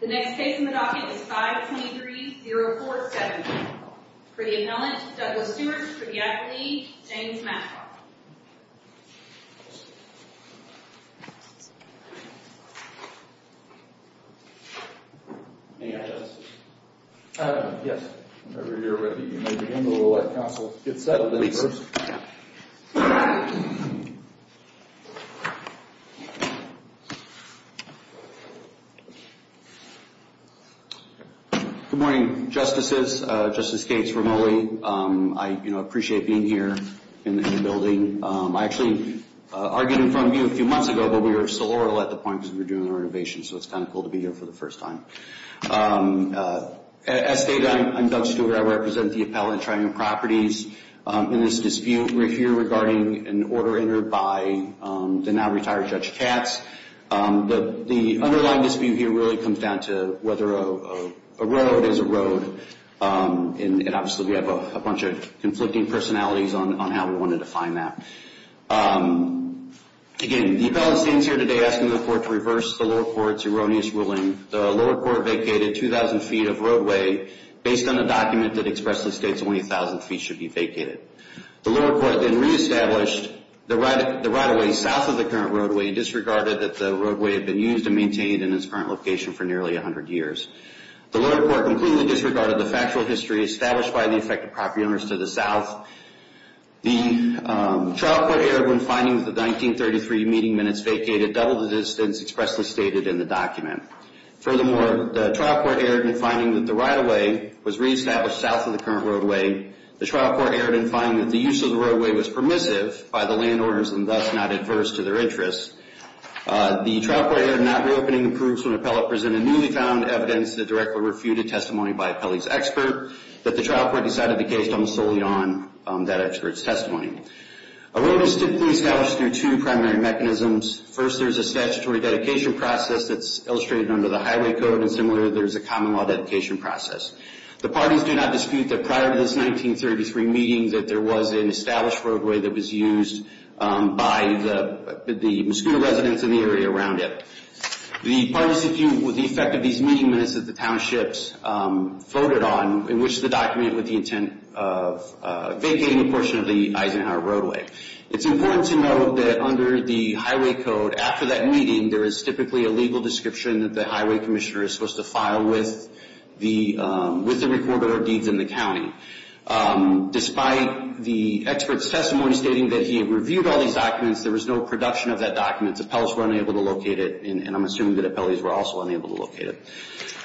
The next case in the docket is 523-0471. For the appellant, Douglas Seward. For the applicant, James Mascoutah. Any other questions? Yes. Whenever you're ready, you may begin. We'll let counsel get settled in first. Good morning, Justices. Justice Gates, Ramoli. I appreciate being here in the building. I actually argued in front of you a few months ago, but we were still oral at the point because we were doing the renovation, so it's kind of cool to be here for the first time. As stated, I'm Doug Stewart. I represent the appellant, Triune Properties. In this dispute here regarding an order entered by the now-retired Judge Katz, the underlying dispute here really comes down to whether a road is a road. And obviously, we have a bunch of conflicting personalities on how we want to define that. Again, the appellant stands here today asking the court to reverse the lower court's erroneous ruling. The lower court vacated 2,000 feet of roadway based on a document that expressly states only 1,000 feet should be vacated. The lower court then reestablished the right-of-way south of the current roadway and disregarded that the roadway had been used and maintained in its current location for nearly 100 years. The lower court completely disregarded the factual history established by the affected property owners to the south. The trial court erred when finding that the 1933 meeting minutes vacated double the distance expressly stated in the document. Furthermore, the trial court erred in finding that the right-of-way was reestablished south of the current roadway. The trial court erred in finding that the use of the roadway was permissive by the landowners and thus not adverse to their interests. The trial court erred in not reopening the proofs when appellant presented newly found evidence that directly refuted testimony by appellee's expert that the trial court decided the case don't solely on that expert's testimony. Error is typically established through two primary mechanisms. First, there's a statutory dedication process that's illustrated under the Highway Code and similarly, there's a common law dedication process. The parties do not dispute that prior to this 1933 meeting that there was an established roadway that was used by the Muscogee residents in the area around it. The parties dispute the effect of these meeting minutes that the townships voted on in which the document with the intent of vacating a portion of the Eisenhower Roadway. It's important to note that under the Highway Code, after that meeting, there is typically a legal description that the highway commissioner is supposed to file with the recorder of deeds in the county. Despite the expert's testimony stating that he had reviewed all these documents, there was no production of that document. Appellants were unable to locate it and I'm assuming that appellees were also unable to locate it.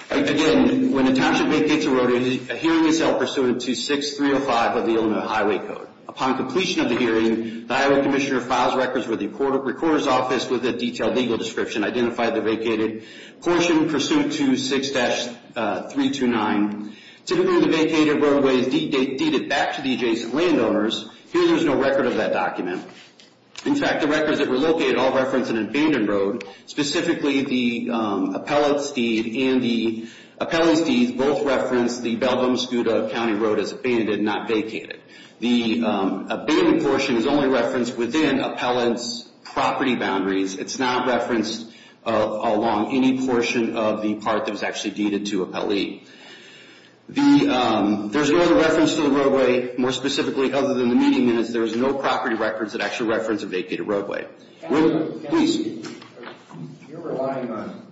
Again, when a township vacates a roadway, a hearing is held pursuant to 6305 of the Illinois Highway Code. Upon completion of the hearing, the highway commissioner files records with the recorder's office with a detailed legal description, identify the vacated portion pursuant to 6-329. To determine the vacated roadway is deeded back to the adjacent landowners, here there is no record of that document. In fact, the records that were located all reference an abandoned road. Specifically, the appellate's deed and the appellee's deed both reference the Bellbomes-Gouda County Road as abandoned, not vacated. The abandoned portion is only referenced within appellant's property boundaries. It's not referenced along any portion of the part that was actually deeded to appellee. There's no other reference to the roadway, more specifically, other than the meeting minutes. There's no property records that actually reference a vacated roadway. Will, please. You're relying on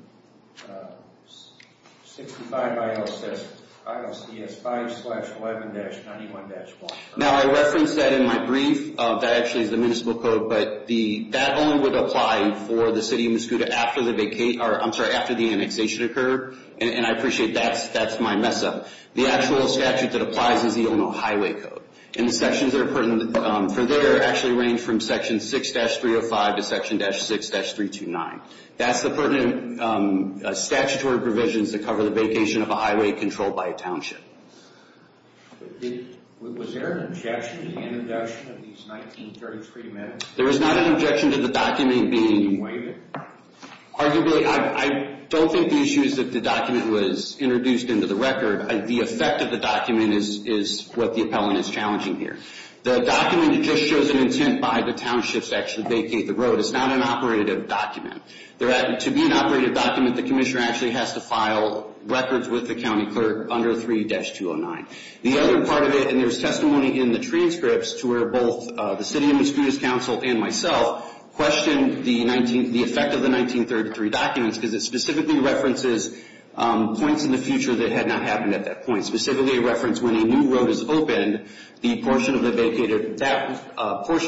65 ILCS 5-11-91-1. Now, I referenced that in my brief. That actually is the municipal code, but that only would apply for the city of Mascouda after the annexation occurred. And I appreciate that's my mess-up. The actual statute that applies is the Illinois Highway Code. And the sections that are pertinent for there actually range from section 6-305 to section 6-329. That's the pertinent statutory provisions that cover the vacation of a highway controlled by a township. Was there an objection to the introduction of these 1933 amendments? There was not an objection to the document being waived. Arguably, I don't think the issue is that the document was introduced into the record. The effect of the document is what the appellant is challenging here. The document just shows an intent by the townships to actually vacate the road. It's not an operative document. To be an operative document, the commissioner actually has to file records with the county clerk under 3-209. The other part of it, and there's testimony in the transcripts to where both the city of Mascouda's council and myself questioned the effect of the 1933 documents because it specifically references points in the future that had not happened at that point. Specifically a reference when a new road is opened, that portion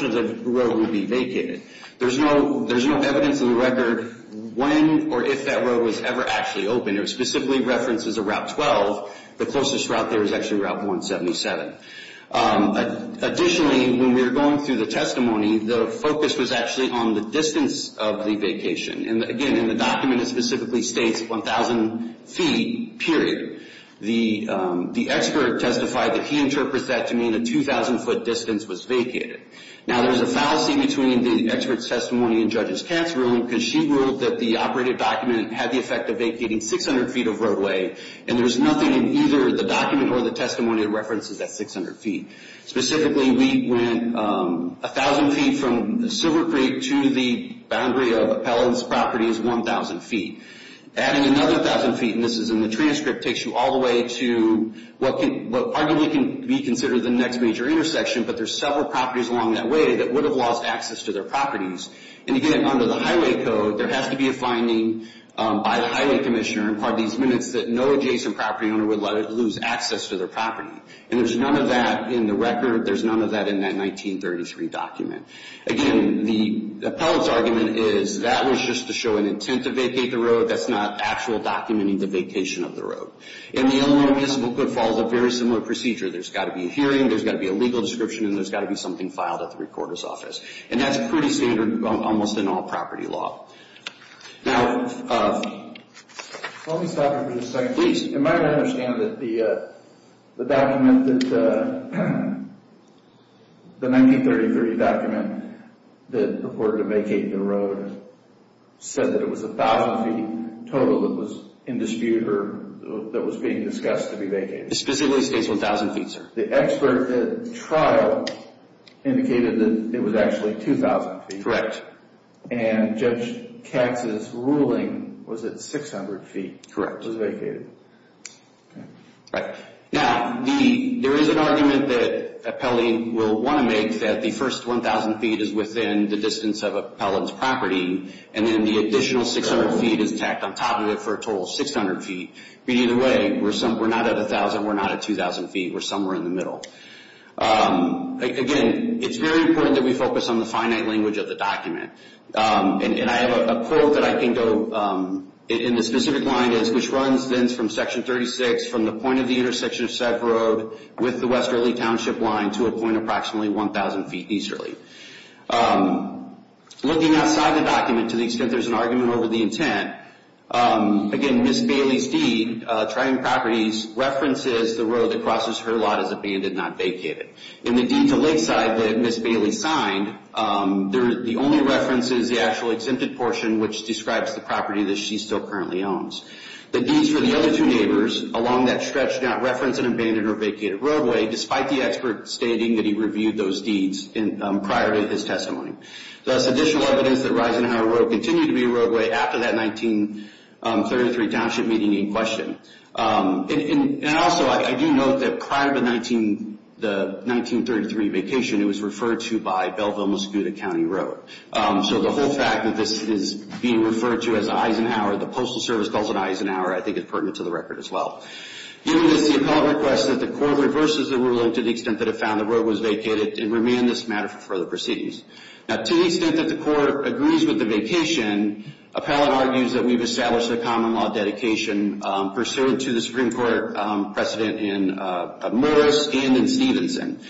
of the road would be vacated. There's no evidence in the record when or if that road was ever actually opened. It specifically references a Route 12. The closest route there is actually Route 177. Additionally, when we were going through the testimony, the focus was actually on the distance of the vacation. Again, in the document, it specifically states 1,000 feet, period. The expert testified that he interprets that to mean a 2,000-foot distance was vacated. Now, there's a fallacy between the expert's testimony and Judge Katz's ruling because she ruled that the operative document had the effect of vacating 600 feet of roadway, and there's nothing in either the document or the testimony that references that 600 feet. Specifically, we went 1,000 feet from Silver Creek to the boundary of Appellant's property is 1,000 feet. Adding another 1,000 feet, and this is in the transcript, takes you all the way to what arguably can be considered the next major intersection, but there's several properties along that way that would have lost access to their properties. And again, under the Highway Code, there has to be a finding by the Highway Commissioner in part of these minutes that no adjacent property owner would lose access to their property. And there's none of that in the record. There's none of that in that 1933 document. Again, the Appellant's argument is that was just to show an intent to vacate the road. That's not actual documenting the vacation of the road. And the Illinois Municipal Code follows a very similar procedure. There's got to be a hearing. There's got to be a legal description. And there's got to be something filed at the recorder's office. And that's pretty standard almost in all property law. Now, let me stop you for just a second. Please. Am I to understand that the document that the 1933 document that reported to vacate the road said that it was 1,000 feet total that was in dispute or that was being discussed to be vacated? It specifically states 1,000 feet, sir. The expert at the trial indicated that it was actually 2,000 feet. Correct. And Judge Katz's ruling was that 600 feet was vacated. Correct. Now, there is an argument that Appellee will want to make that the first 1,000 feet is within the distance of Appellant's property. And then the additional 600 feet is tacked on top of it for a total of 600 feet. But either way, we're not at 1,000. We're not at 2,000 feet. We're somewhere in the middle. Again, it's very important that we focus on the finite language of the document. And I have a quote that I can go in the specific line is, which runs then from Section 36 from the point of the intersection of Sack Road with the Westerly Township line to a point approximately 1,000 feet easterly. Looking outside the document to the extent there's an argument over the intent, again, Ms. Bailey's deed, trying properties, references the road that crosses her lot as abandoned, not vacated. In the deed to Lakeside that Ms. Bailey signed, the only reference is the actual exempted portion, which describes the property that she still currently owns. The deeds for the other two neighbors along that stretch do not reference an abandoned or vacated roadway, despite the expert stating that he reviewed those deeds prior to his testimony. Thus, additional evidence that Eisenhower Road continued to be a roadway after that 1933 Township meeting in question. And also, I do note that prior to the 1933 vacation, it was referred to by Belleville-Mosquito County Road. So the whole fact that this is being referred to as Eisenhower, the Postal Service calls it Eisenhower, I think is pertinent to the record as well. Given this, the appellant requests that the court reverses the ruling to the extent that it found the road was vacated, and remand this matter for further proceedings. Now, to the extent that the court agrees with the vacation, appellant argues that we've established a common law dedication pursuant to the Supreme Court precedent in Morris and in Stevenson.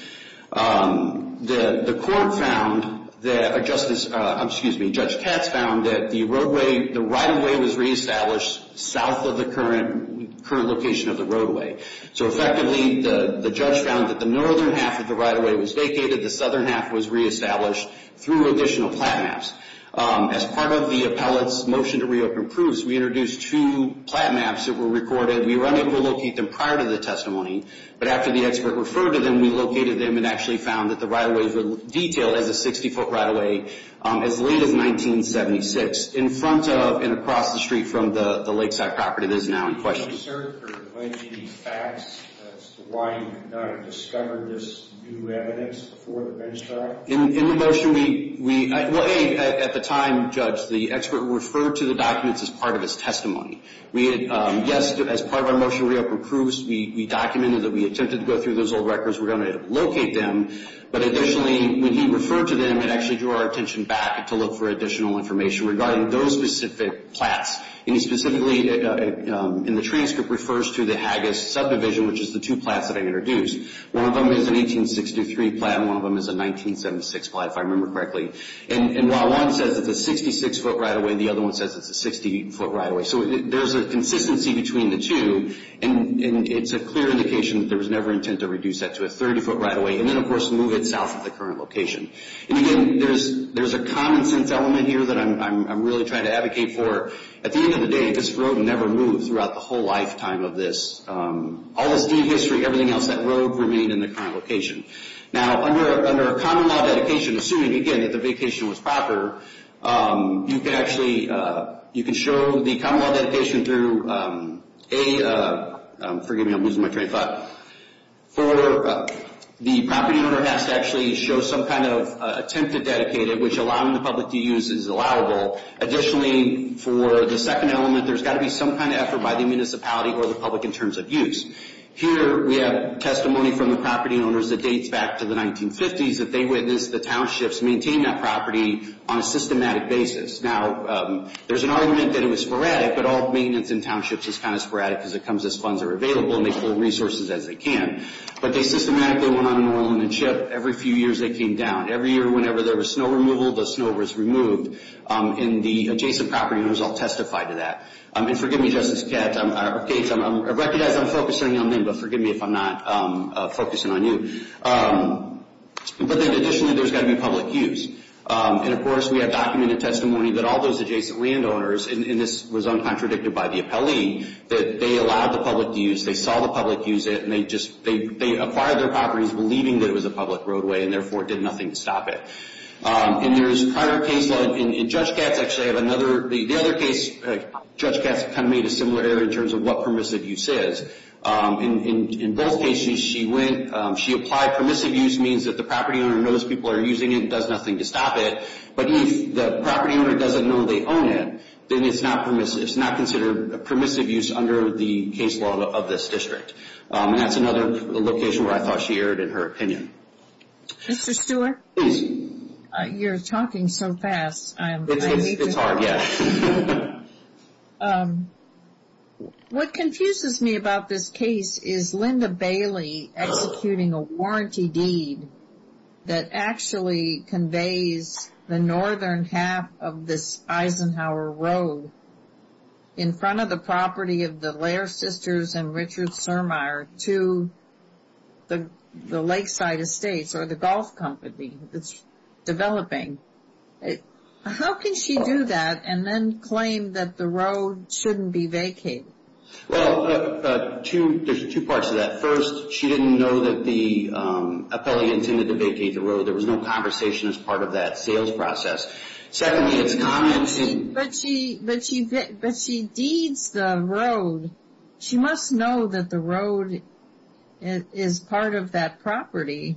The court found that, excuse me, Judge Katz found that the right-of-way was reestablished south of the current location of the roadway. So effectively, the judge found that the northern half of the right-of-way was vacated, the southern half was reestablished through additional plat maps. As part of the appellant's motion to reopen proofs, we introduced two plat maps that were recorded. We were unable to locate them prior to the testimony, but after the expert referred to them, we located them and actually found that the right-of-ways were detailed as a 60-foot right-of-way as late as 1976. In front of and across the street from the Lakeside property that is now in question. Sir, for the fact that's why you have not discovered this new evidence before the bench trial? In the motion, we at the time, Judge, the expert referred to the documents as part of his testimony. Yes, as part of our motion to reopen proofs, we documented that we attempted to go through those old records. We're going to locate them. But additionally, when he referred to them, it actually drew our attention back to look for additional information regarding those specific plats. And he specifically, in the transcript, refers to the Haggis subdivision, which is the two plats that I introduced. One of them is an 1863 plat, and one of them is a 1976 plat, if I remember correctly. And while one says it's a 66-foot right-of-way, the other one says it's a 60-foot right-of-way. So there's a consistency between the two, and it's a clear indication that there was never intent to reduce that to a 30-foot right-of-way. And then, of course, move it south of the current location. And again, there's a common-sense element here that I'm really trying to advocate for. At the end of the day, this road never moved throughout the whole lifetime of this. All this deed history, everything else, that road remained in the current location. Now, under a common-law dedication, assuming, again, that the vacation was proper, you can actually show the common-law dedication through a— forgive me, I'm losing my train of thought— for the property owner has to actually show some kind of attempt to dedicate it, which allowing the public to use is allowable. Additionally, for the second element, there's got to be some kind of effort by the municipality or the public in terms of use. Here, we have testimony from the property owners that dates back to the 1950s that they witnessed the townships maintain that property on a systematic basis. Now, there's an argument that it was sporadic, but all maintenance in townships is kind of sporadic because it comes as funds are available, and they pull resources as they can. But they systematically went on an oil and chip. Every few years, they came down. Every year, whenever there was snow removal, the snow was removed. And the adjacent property owners all testified to that. And forgive me, Justice Katz, I recognize I'm focusing on them, but forgive me if I'm not focusing on you. But then, additionally, there's got to be public use. And, of course, we have documented testimony that all those adjacent landowners— and this was uncontradicted by the appellee—that they allowed the public to use, they saw the public use it, and they acquired their properties believing that it was a public roadway and, therefore, did nothing to stop it. And there's prior case law. In Judge Katz, actually, I have another—the other case, Judge Katz kind of made a similar error in terms of what permissive use is. In both cases, she went—she applied permissive use means that the property owner knows people are using it and does nothing to stop it. But if the property owner doesn't know they own it, then it's not permissive. It's not considered permissive use under the case law of this district. And that's another location where I thought she erred in her opinion. Mr. Stewart, you're talking so fast. It's hard, yes. What confuses me about this case is Linda Bailey executing a warranty deed that actually conveys the northern half of this Eisenhower Road in front of the property of the Lair Sisters and Richard Surmeyer to the lakeside estates or the golf company that's developing. How can she do that and then claim that the road shouldn't be vacated? Well, two—there's two parts to that. First, she didn't know that the appellee intended to vacate the road. There was no conversation as part of that sales process. But she deeds the road. She must know that the road is part of that property,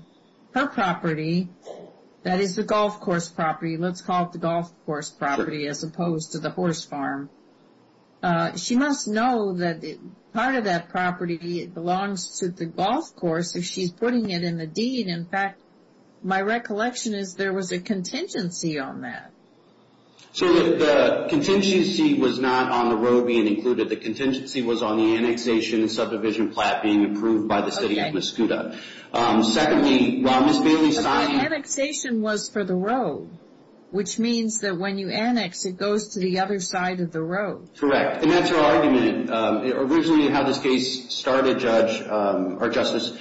her property. That is the golf course property. Let's call it the golf course property as opposed to the horse farm. She must know that part of that property belongs to the golf course if she's putting it in the deed. In fact, my recollection is there was a contingency on that. So the contingency was not on the road being included. The contingency was on the annexation and subdivision plat being approved by the city of Mascouda. Secondly, while Ms. Bailey signed— But the annexation was for the road, which means that when you annex, it goes to the other side of the road. Correct, and that's her argument. Originally, how this case started, Judge—or Justice,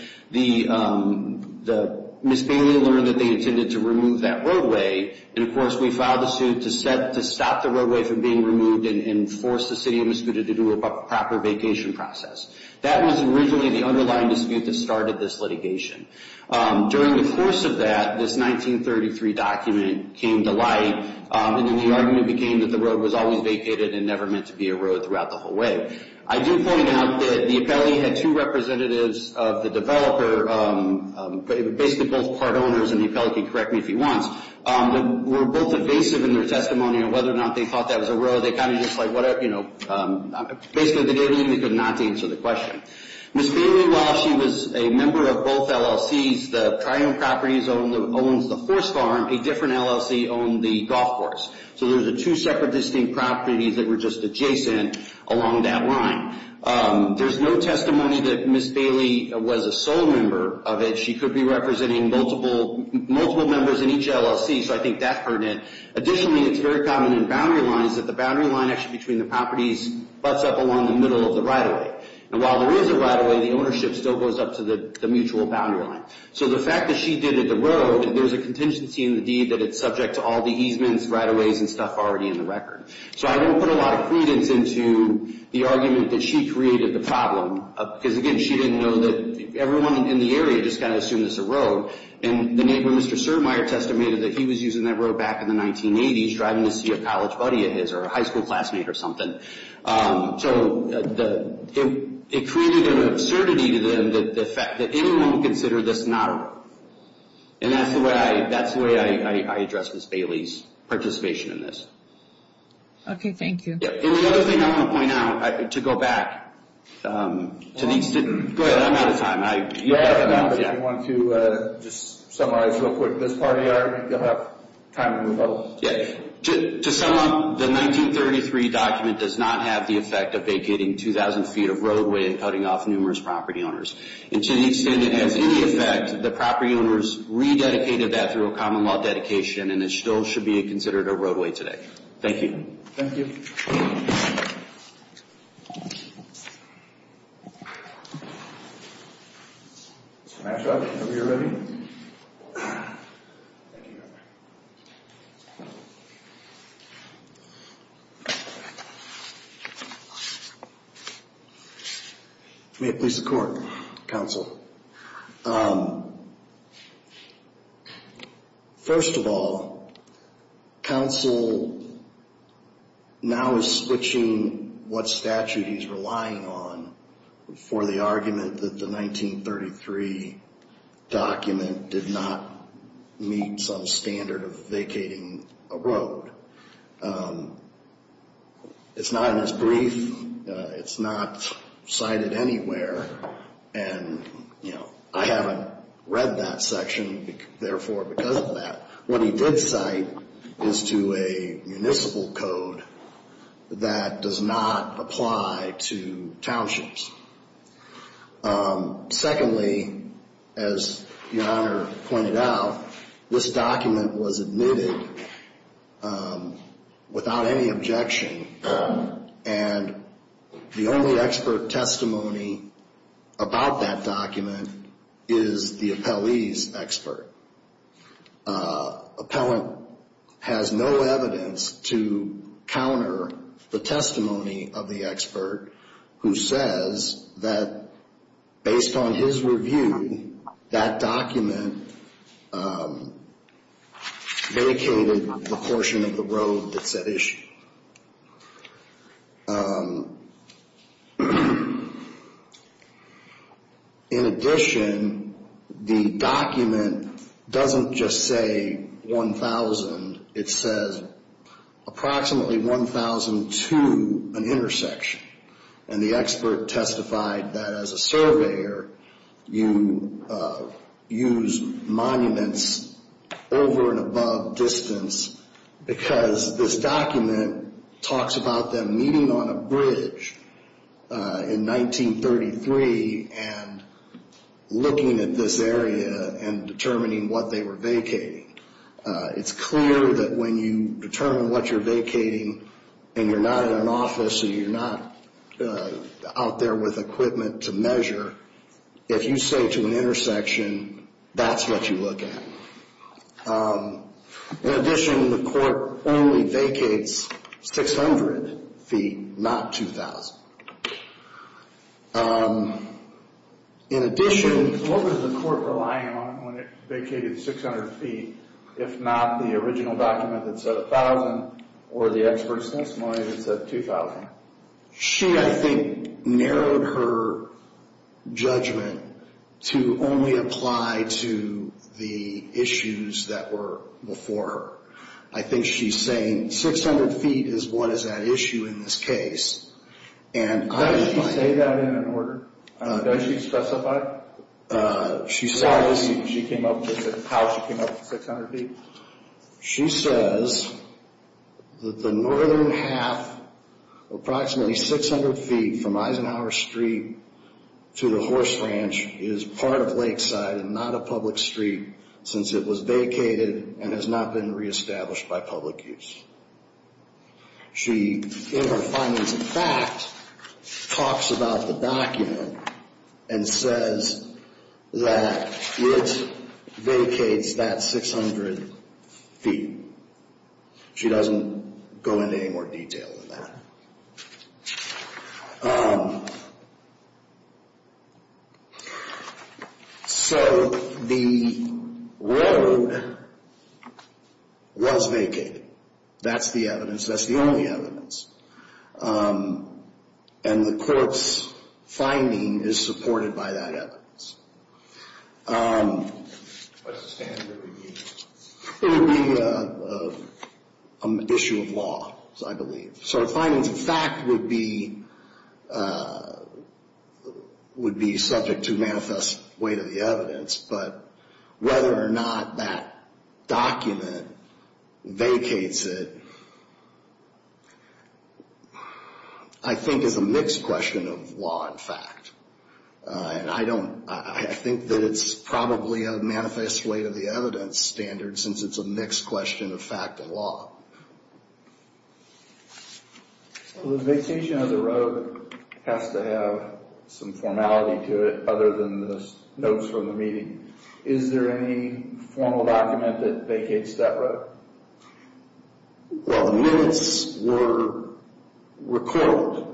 Ms. Bailey learned that they intended to remove that roadway. And, of course, we filed a suit to stop the roadway from being removed and force the city of Mascouda to do a proper vacation process. That was originally the underlying dispute that started this litigation. During the course of that, this 1933 document came to light, and then the argument became that the road was always vacated and never meant to be a road throughout the whole way. I do point out that the appellee had two representatives of the developer, basically both part owners—and the appellee can correct me if he wants— that were both evasive in their testimony on whether or not they thought that was a road. They kind of just like, whatever, you know—basically, they did everything they could not to answer the question. Ms. Bailey, while she was a member of both LLCs, the Tri-Owned Properties owns the horse farm. A different LLC owned the golf course. So there's two separate distinct properties that were just adjacent along that line. There's no testimony that Ms. Bailey was a sole member of it. She could be representing multiple members in each LLC, so I think that's pertinent. Additionally, it's very common in boundary lines that the boundary line actually between the properties butts up along the middle of the right-of-way. And while there is a right-of-way, the ownership still goes up to the mutual boundary line. So the fact that she did it the road, there's a contingency in the deed that it's subject to all the easements, right-of-ways, and stuff already in the record. So I don't put a lot of credence into the argument that she created the problem. Because, again, she didn't know that everyone in the area just kind of assumed it's a road. And the neighbor, Mr. Surdmayer, testimated that he was using that road back in the 1980s, driving to see a college buddy of his or a high school classmate or something. So it created an absurdity to them that anyone would consider this not a road. And that's the way I address Ms. Bailey's participation in this. Okay, thank you. And the other thing I want to point out, to go back to these students. Go ahead, I'm out of time. If you want to just summarize real quick this part of the argument, you'll have time to do both. To sum up, the 1933 document does not have the effect of vacating 2,000 feet of roadway and cutting off numerous property owners. And to the extent it has any effect, the property owners rededicated that through a common law dedication, and it still should be considered a roadway today. Thank you. Thank you. Thank you. Smash up whenever you're ready. Thank you. May it please the Court, Counsel. First of all, Counsel now is switching what statute he's relying on for the argument that the 1933 document did not meet some standard of vacating a road. It's not in his brief. It's not cited anywhere. And, you know, I haven't read that section, therefore, because of that. What he did cite is to a municipal code that does not apply to townships. Secondly, as Your Honor pointed out, this document was admitted without any objection, and the only expert testimony about that document is the appellee's expert. Appellant has no evidence to counter the testimony of the expert who says that based on his review, that document vacated the portion of the road that said issue. In addition, the document doesn't just say 1,000. It says approximately 1,000 to an intersection, and the expert testified that as a surveyor, you use monuments over and above distance because this document talks about them meeting on a bridge in 1933 and looking at this area and determining what they were vacating. It's clear that when you determine what you're vacating and you're not in an office or you're not out there with equipment to measure, if you say to an intersection, that's what you look at. In addition, the court only vacates 600 feet, not 2,000. In addition, what was the court relying on when it vacated 600 feet, if not the original document that said 1,000 or the expert testimony that said 2,000? She, I think, narrowed her judgment to only apply to the issues that were before her. I think she's saying 600 feet is what is at issue in this case. Does she say that in an order? Does she specify how she came up with 600 feet? She says that the northern half, approximately 600 feet from Eisenhower Street to the horse ranch, is part of Lakeside and not a public street since it was vacated and has not been reestablished by public use. She, in her findings of fact, talks about the document and says that it vacates that 600 feet. She doesn't go into any more detail than that. So the railroad was vacated. That's the evidence. That's the only evidence. And the court's finding is supported by that evidence. It would be an issue of law, I believe. So the findings of fact would be subject to manifest weight of the evidence. But whether or not that document vacates it, I think, is a mixed question of law and fact. And I think that it's probably a manifest weight of the evidence standard since it's a mixed question of fact and law. The vacation of the road has to have some formality to it other than the notes from the meeting. Is there any formal document that vacates that road? Well, the minutes were recorded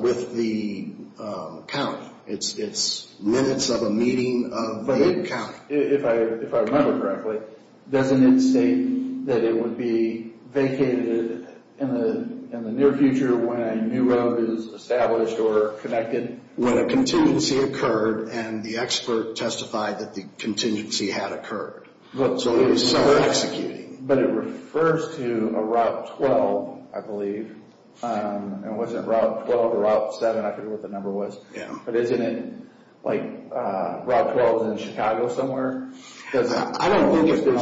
with the county. It's minutes of a meeting of the county. If I remember correctly, doesn't it state that it would be vacated in the near future when a new road is established or connected? When a contingency occurred and the expert testified that the contingency had occurred. But it refers to a Route 12, I believe. And was it Route 12 or Route 7? I forget what the number was. But isn't it like Route 12 is in Chicago somewhere? I don't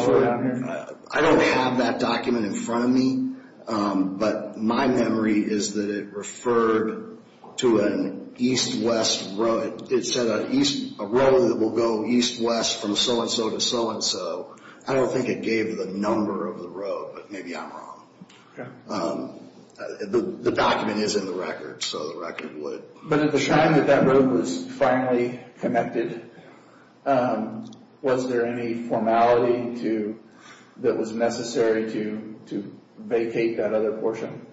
have that document in front of me. But my memory is that it referred to an east-west road. It said a road that will go east-west from so-and-so to so-and-so. I don't think it gave the number of the road, but maybe I'm wrong. The document is in the record. But at the time that that road was finally connected, was there any formality that was necessary to vacate that other portion?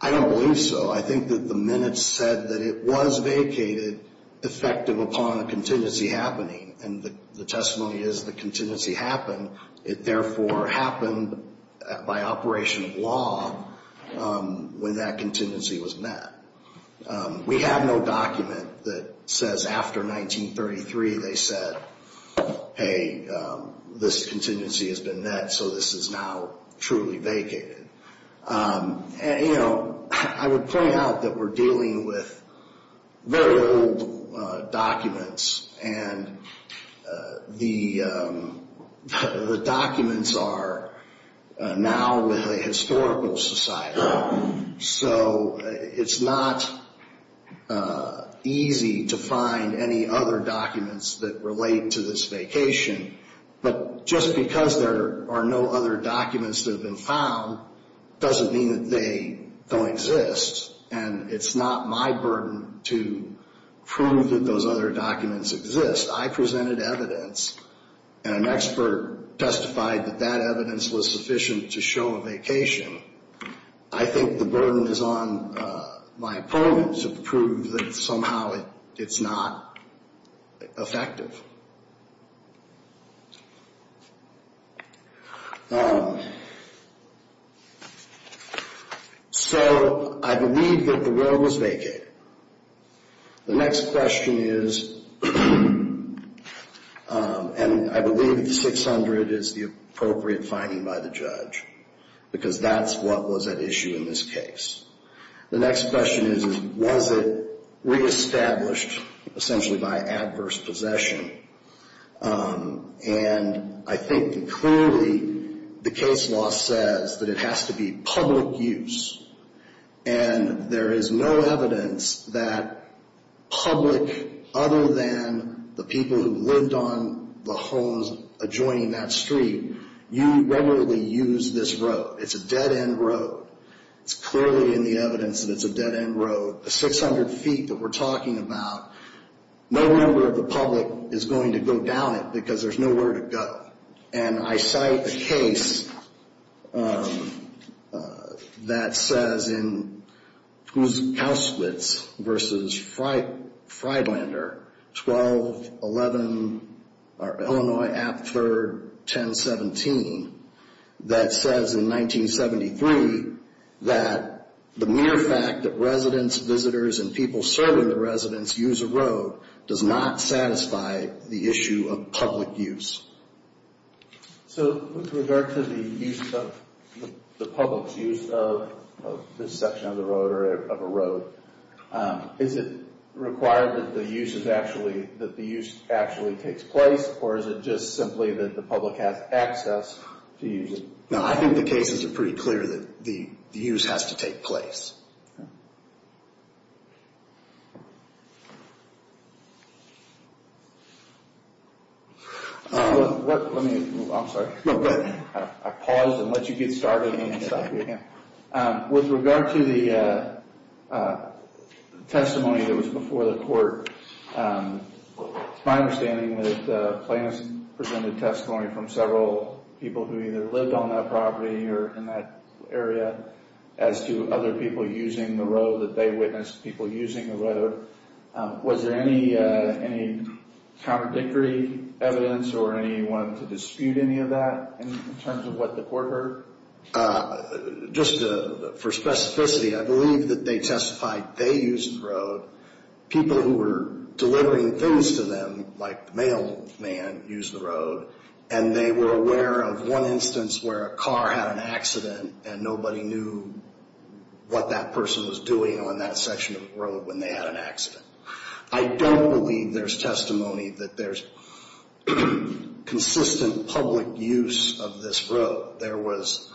I don't believe so. I think that the minutes said that it was vacated effective upon a contingency happening. And the testimony is the contingency happened. It therefore happened by operation of law when that contingency was met. We have no document that says after 1933 they said, hey, this contingency has been met, so this is now truly vacated. I would point out that we're dealing with very old documents, and the documents are now with a historical society. So it's not easy to find any other documents that relate to this vacation. But just because there are no other documents that have been found doesn't mean that they don't exist, and it's not my burden to prove that those other documents exist. I presented evidence, and an expert testified that that evidence was sufficient to show a vacation. I think the burden is on my opponents to prove that somehow it's not effective. So I believe that the road was vacated. The next question is, and I believe the 600 is the appropriate finding by the judge, because that's what was at issue in this case. The next question is, was it reestablished essentially by adverse possession? And I think clearly the case law says that it has to be public use, and there is no evidence that public other than the people who lived on the homes adjoining that street, you regularly use this road. It's a dead-end road. It's clearly in the evidence that it's a dead-end road. The 600 feet that we're talking about, no member of the public is going to go down it because there's nowhere to go. And I cite a case that says in Kauswitz v. Freiblander, 12-11, or Illinois at 3rd, 1017, that says in 1973 that the mere fact that residents, visitors, and people serving the residents use a road does not satisfy the issue of public use. So with regard to the use of, the public's use of this section of the road or of a road, is it required that the use is actually, that the use actually takes place, or is it just simply that the public has access to use it? No, I think the cases are pretty clear that the use has to take place. Let me, I'm sorry. No, go ahead. I paused and let you get started. With regard to the testimony that was before the court, it's my understanding that plans presented testimony from several people who either lived on that property or in that area as to other people using the road, that they witnessed people using the road. Was there any contradictory evidence or anyone to dispute any of that in terms of what the court heard? Just for specificity, I believe that they testified they used the road. People who were delivering things to them, like the mailman used the road, and they were aware of one instance where a car had an accident and nobody knew what that person was doing on that section of the road when they had an accident. I don't believe there's testimony that there's consistent public use of this road. There was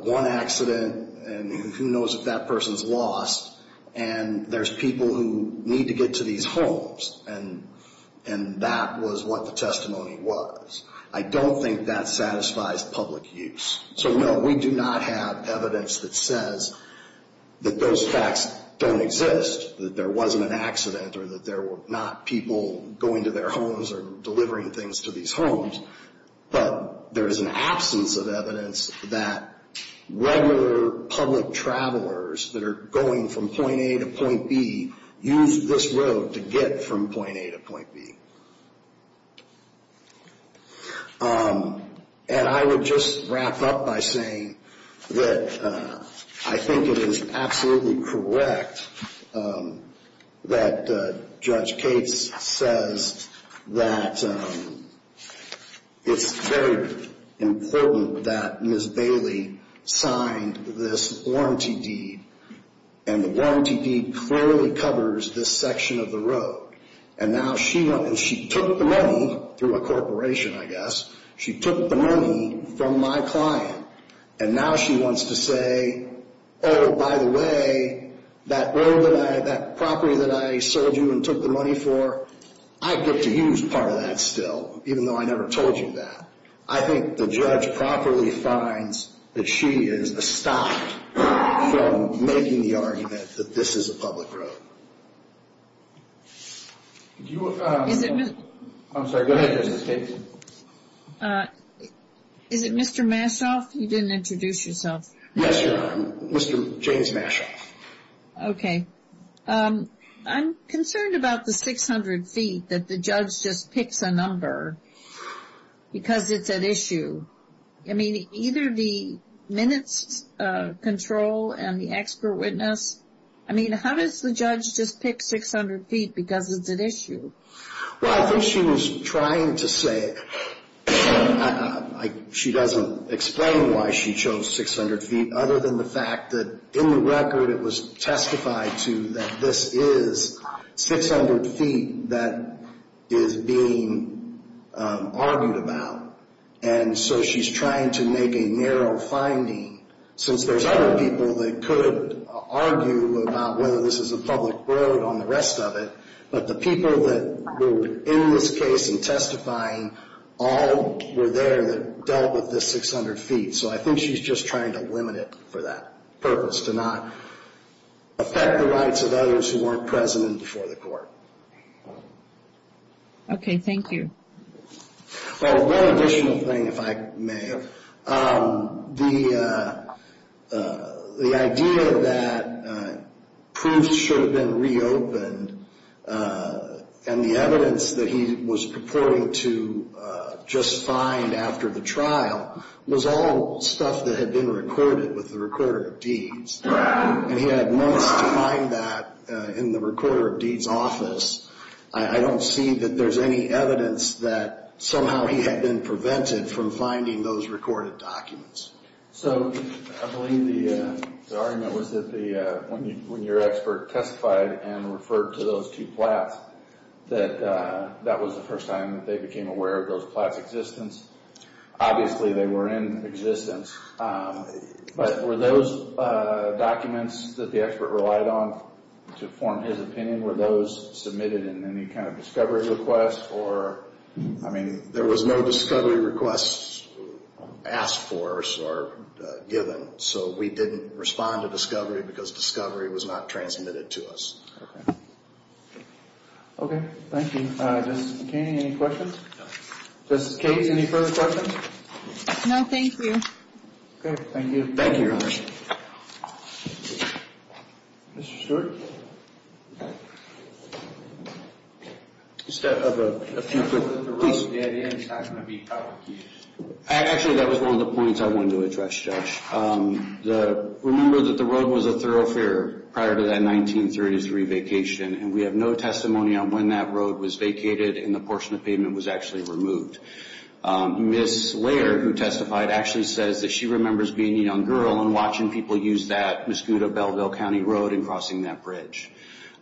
one accident, and who knows if that person's lost, and there's people who need to get to these homes, and that was what the testimony was. I don't think that satisfies public use. So, no, we do not have evidence that says that those facts don't exist, that there wasn't an accident or that there were not people going to their homes or delivering things to these homes. But there is an absence of evidence that regular public travelers that are going from point A to point B used this road to get from point A to point B. And I would just wrap up by saying that I think it is absolutely correct that Judge Cates says that it's very important that Ms. Bailey signed this warranty deed, and the warranty deed clearly covers this section of the road. And now she took the money through a corporation, I guess. She took the money from my client, and now she wants to say, oh, by the way, that property that I sold you and took the money for, I get to use part of that still, even though I never told you that. I think the judge properly finds that she is stopped from making the argument that this is a public road. I'm sorry, go ahead, Justice Cates. Is it Mr. Massoff? You didn't introduce yourself. Yes, Your Honor, Mr. James Massoff. Okay. I'm concerned about the 600 feet that the judge just picks a number because it's at issue. I mean, either the minutes control and the expert witness, I mean, how does the judge just pick 600 feet because it's at issue? Well, I think she was trying to say she doesn't explain why she chose 600 feet, other than the fact that in the record it was testified to that this is 600 feet that is being argued about. And so she's trying to make a narrow finding, since there's other people that could argue about whether this is a public road on the rest of it, but the people that were in this case and testifying all were there that dealt with this 600 feet. So I think she's just trying to limit it for that purpose, to not affect the rights of others who weren't present before the court. Okay, thank you. Well, one additional thing, if I may. The idea that proofs should have been reopened and the evidence that he was purporting to just find after the trial was all stuff that had been recorded with the Recorder of Deeds. And he had minutes to find that in the Recorder of Deeds office. I don't see that there's any evidence that somehow he had been prevented from finding those recorded documents. So I believe the argument was that when your expert testified and referred to those two plats, that that was the first time that they became aware of those plats' existence. Obviously, they were in existence. But were those documents that the expert relied on to form his opinion, were those submitted in any kind of discovery request? I mean, there was no discovery request asked for us or given. So we didn't respond to discovery because discovery was not transmitted to us. Okay, thank you. Justice McCain, any questions? Justice Cates, any further questions? Okay, thank you. Thank you, Your Honor. Thank you. Mr. Stewart? Just a few quick questions. Actually, that was one of the points I wanted to address, Judge. Remember that the road was a thoroughfare prior to that 1933 vacation, and we have no testimony on when that road was vacated and the portion of pavement was actually removed. Ms. Laird, who testified, actually says that she remembers being a young girl and watching people use that Mosquito Belleville County Road and crossing that bridge.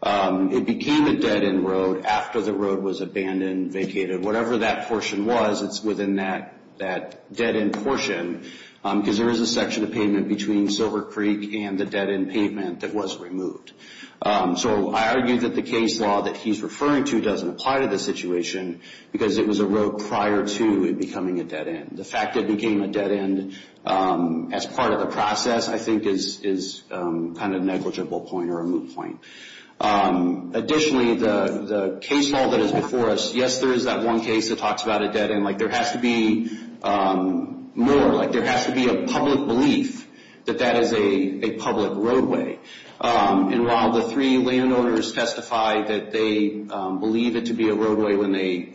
It became a dead-end road after the road was abandoned, vacated. Whatever that portion was, it's within that dead-end portion because there is a section of pavement between Silver Creek and the dead-end pavement that was removed. So I argue that the case law that he's referring to doesn't apply to the situation because it was a road prior to it becoming a dead-end. The fact that it became a dead-end as part of the process, I think, is kind of a negligible point or a moot point. Additionally, the case law that is before us, yes, there is that one case that talks about a dead-end. Like, there has to be more. Like, there has to be a public belief that that is a public roadway. And while the three landowners testified that they believed it to be a roadway when they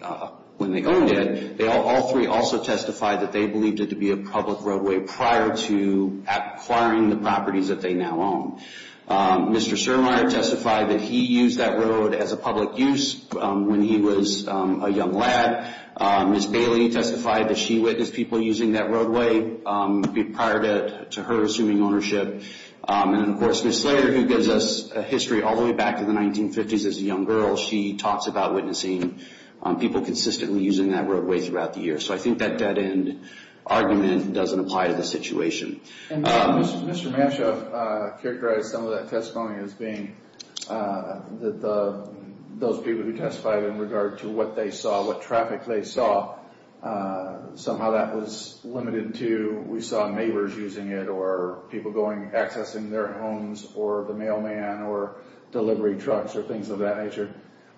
owned it, all three also testified that they believed it to be a public roadway prior to acquiring the properties that they now own. Mr. Surmaier testified that he used that road as a public use when he was a young lad. Ms. Bailey testified that she witnessed people using that roadway prior to her assuming ownership. And, of course, Ms. Slater, who gives us a history all the way back to the 1950s as a young girl, she talks about witnessing people consistently using that roadway throughout the years. So I think that dead-end argument doesn't apply to the situation. And Mr. Mashoff characterized some of that testimony as being that those people who testified in regard to what they saw, what traffic they saw, somehow that was limited to we saw neighbors using it or people accessing their homes or the mailman or delivery trucks or things of that nature.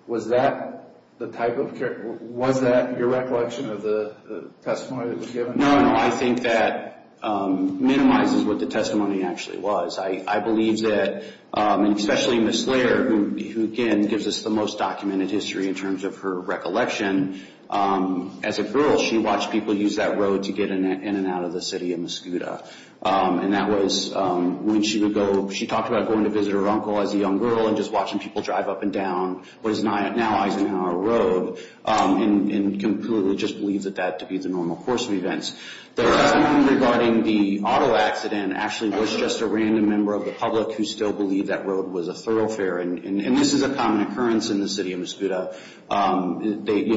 Was that your recollection of the testimony that was given? No, no. I think that minimizes what the testimony actually was. I believe that, especially Ms. Slater, who, again, gives us the most documented history in terms of her recollection, as a girl, she watched people use that road to get in and out of the city of Mascouda. And that was when she would go, she talked about going to visit her uncle as a young girl and just watching people drive up and down what is now Eisenhower Road and completely just believes that that to be the normal course of events. The argument regarding the auto accident actually was just a random member of the public who still believed that road was a thoroughfare. And this is a common occurrence in the city of Mascouda.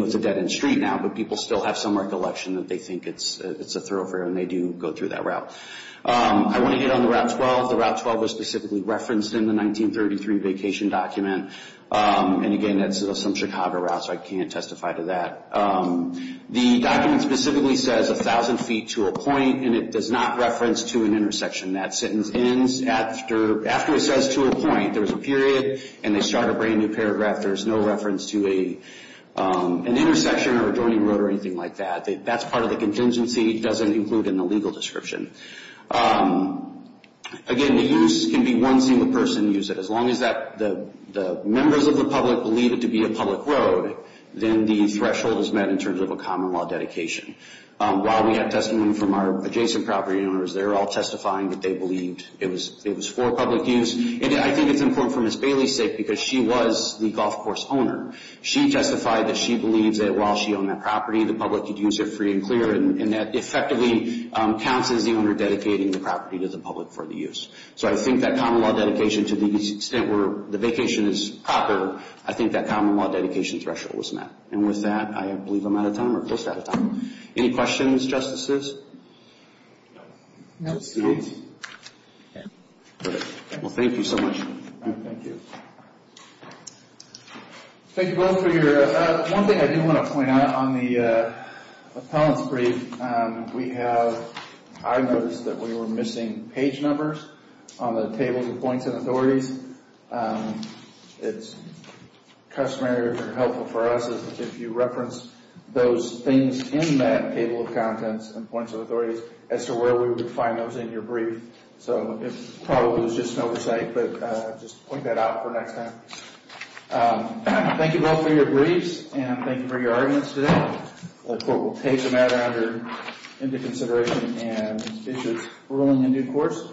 It's a dead end street now, but people still have some recollection that they think it's a thoroughfare and they do go through that route. I want to get on the Route 12. The Route 12 was specifically referenced in the 1933 vacation document. And, again, that's some Chicago route, so I can't testify to that. The document specifically says 1,000 feet to a point, and it does not reference to an intersection. That sentence ends after it says to a point. There's a period, and they start a brand-new paragraph. There's no reference to an intersection or a joining road or anything like that. That's part of the contingency. It doesn't include in the legal description. Again, the use can be one single person use it. As long as the members of the public believe it to be a public road, then the threshold is met in terms of a common law dedication. While we have testimony from our adjacent property owners, they're all testifying that they believed it was for public use. And I think it's important for Ms. Bailey's sake because she was the golf course owner. She testified that she believes that while she owned that property, the public could use it free and clear, and that effectively counts as the owner dedicating the property to the public for the use. So I think that common law dedication to the extent where the vacation is proper, I think that common law dedication threshold was met. And with that, I believe I'm out of time or just out of time. Any questions, Justices? No. Well, thank you so much. Thank you. Thank you both for your – one thing I do want to point out on the appellant's brief, we have – I noticed that we were missing page numbers on the tables of points and authorities. It's customary or helpful for us if you reference those things in that table of contents and points of authorities as to where we would find those in your brief. So it probably was just oversight, but I'll just point that out for next time. Thank you both for your briefs, and thank you for your arguments today. The court will take the matter under – into consideration and issue its ruling in due course.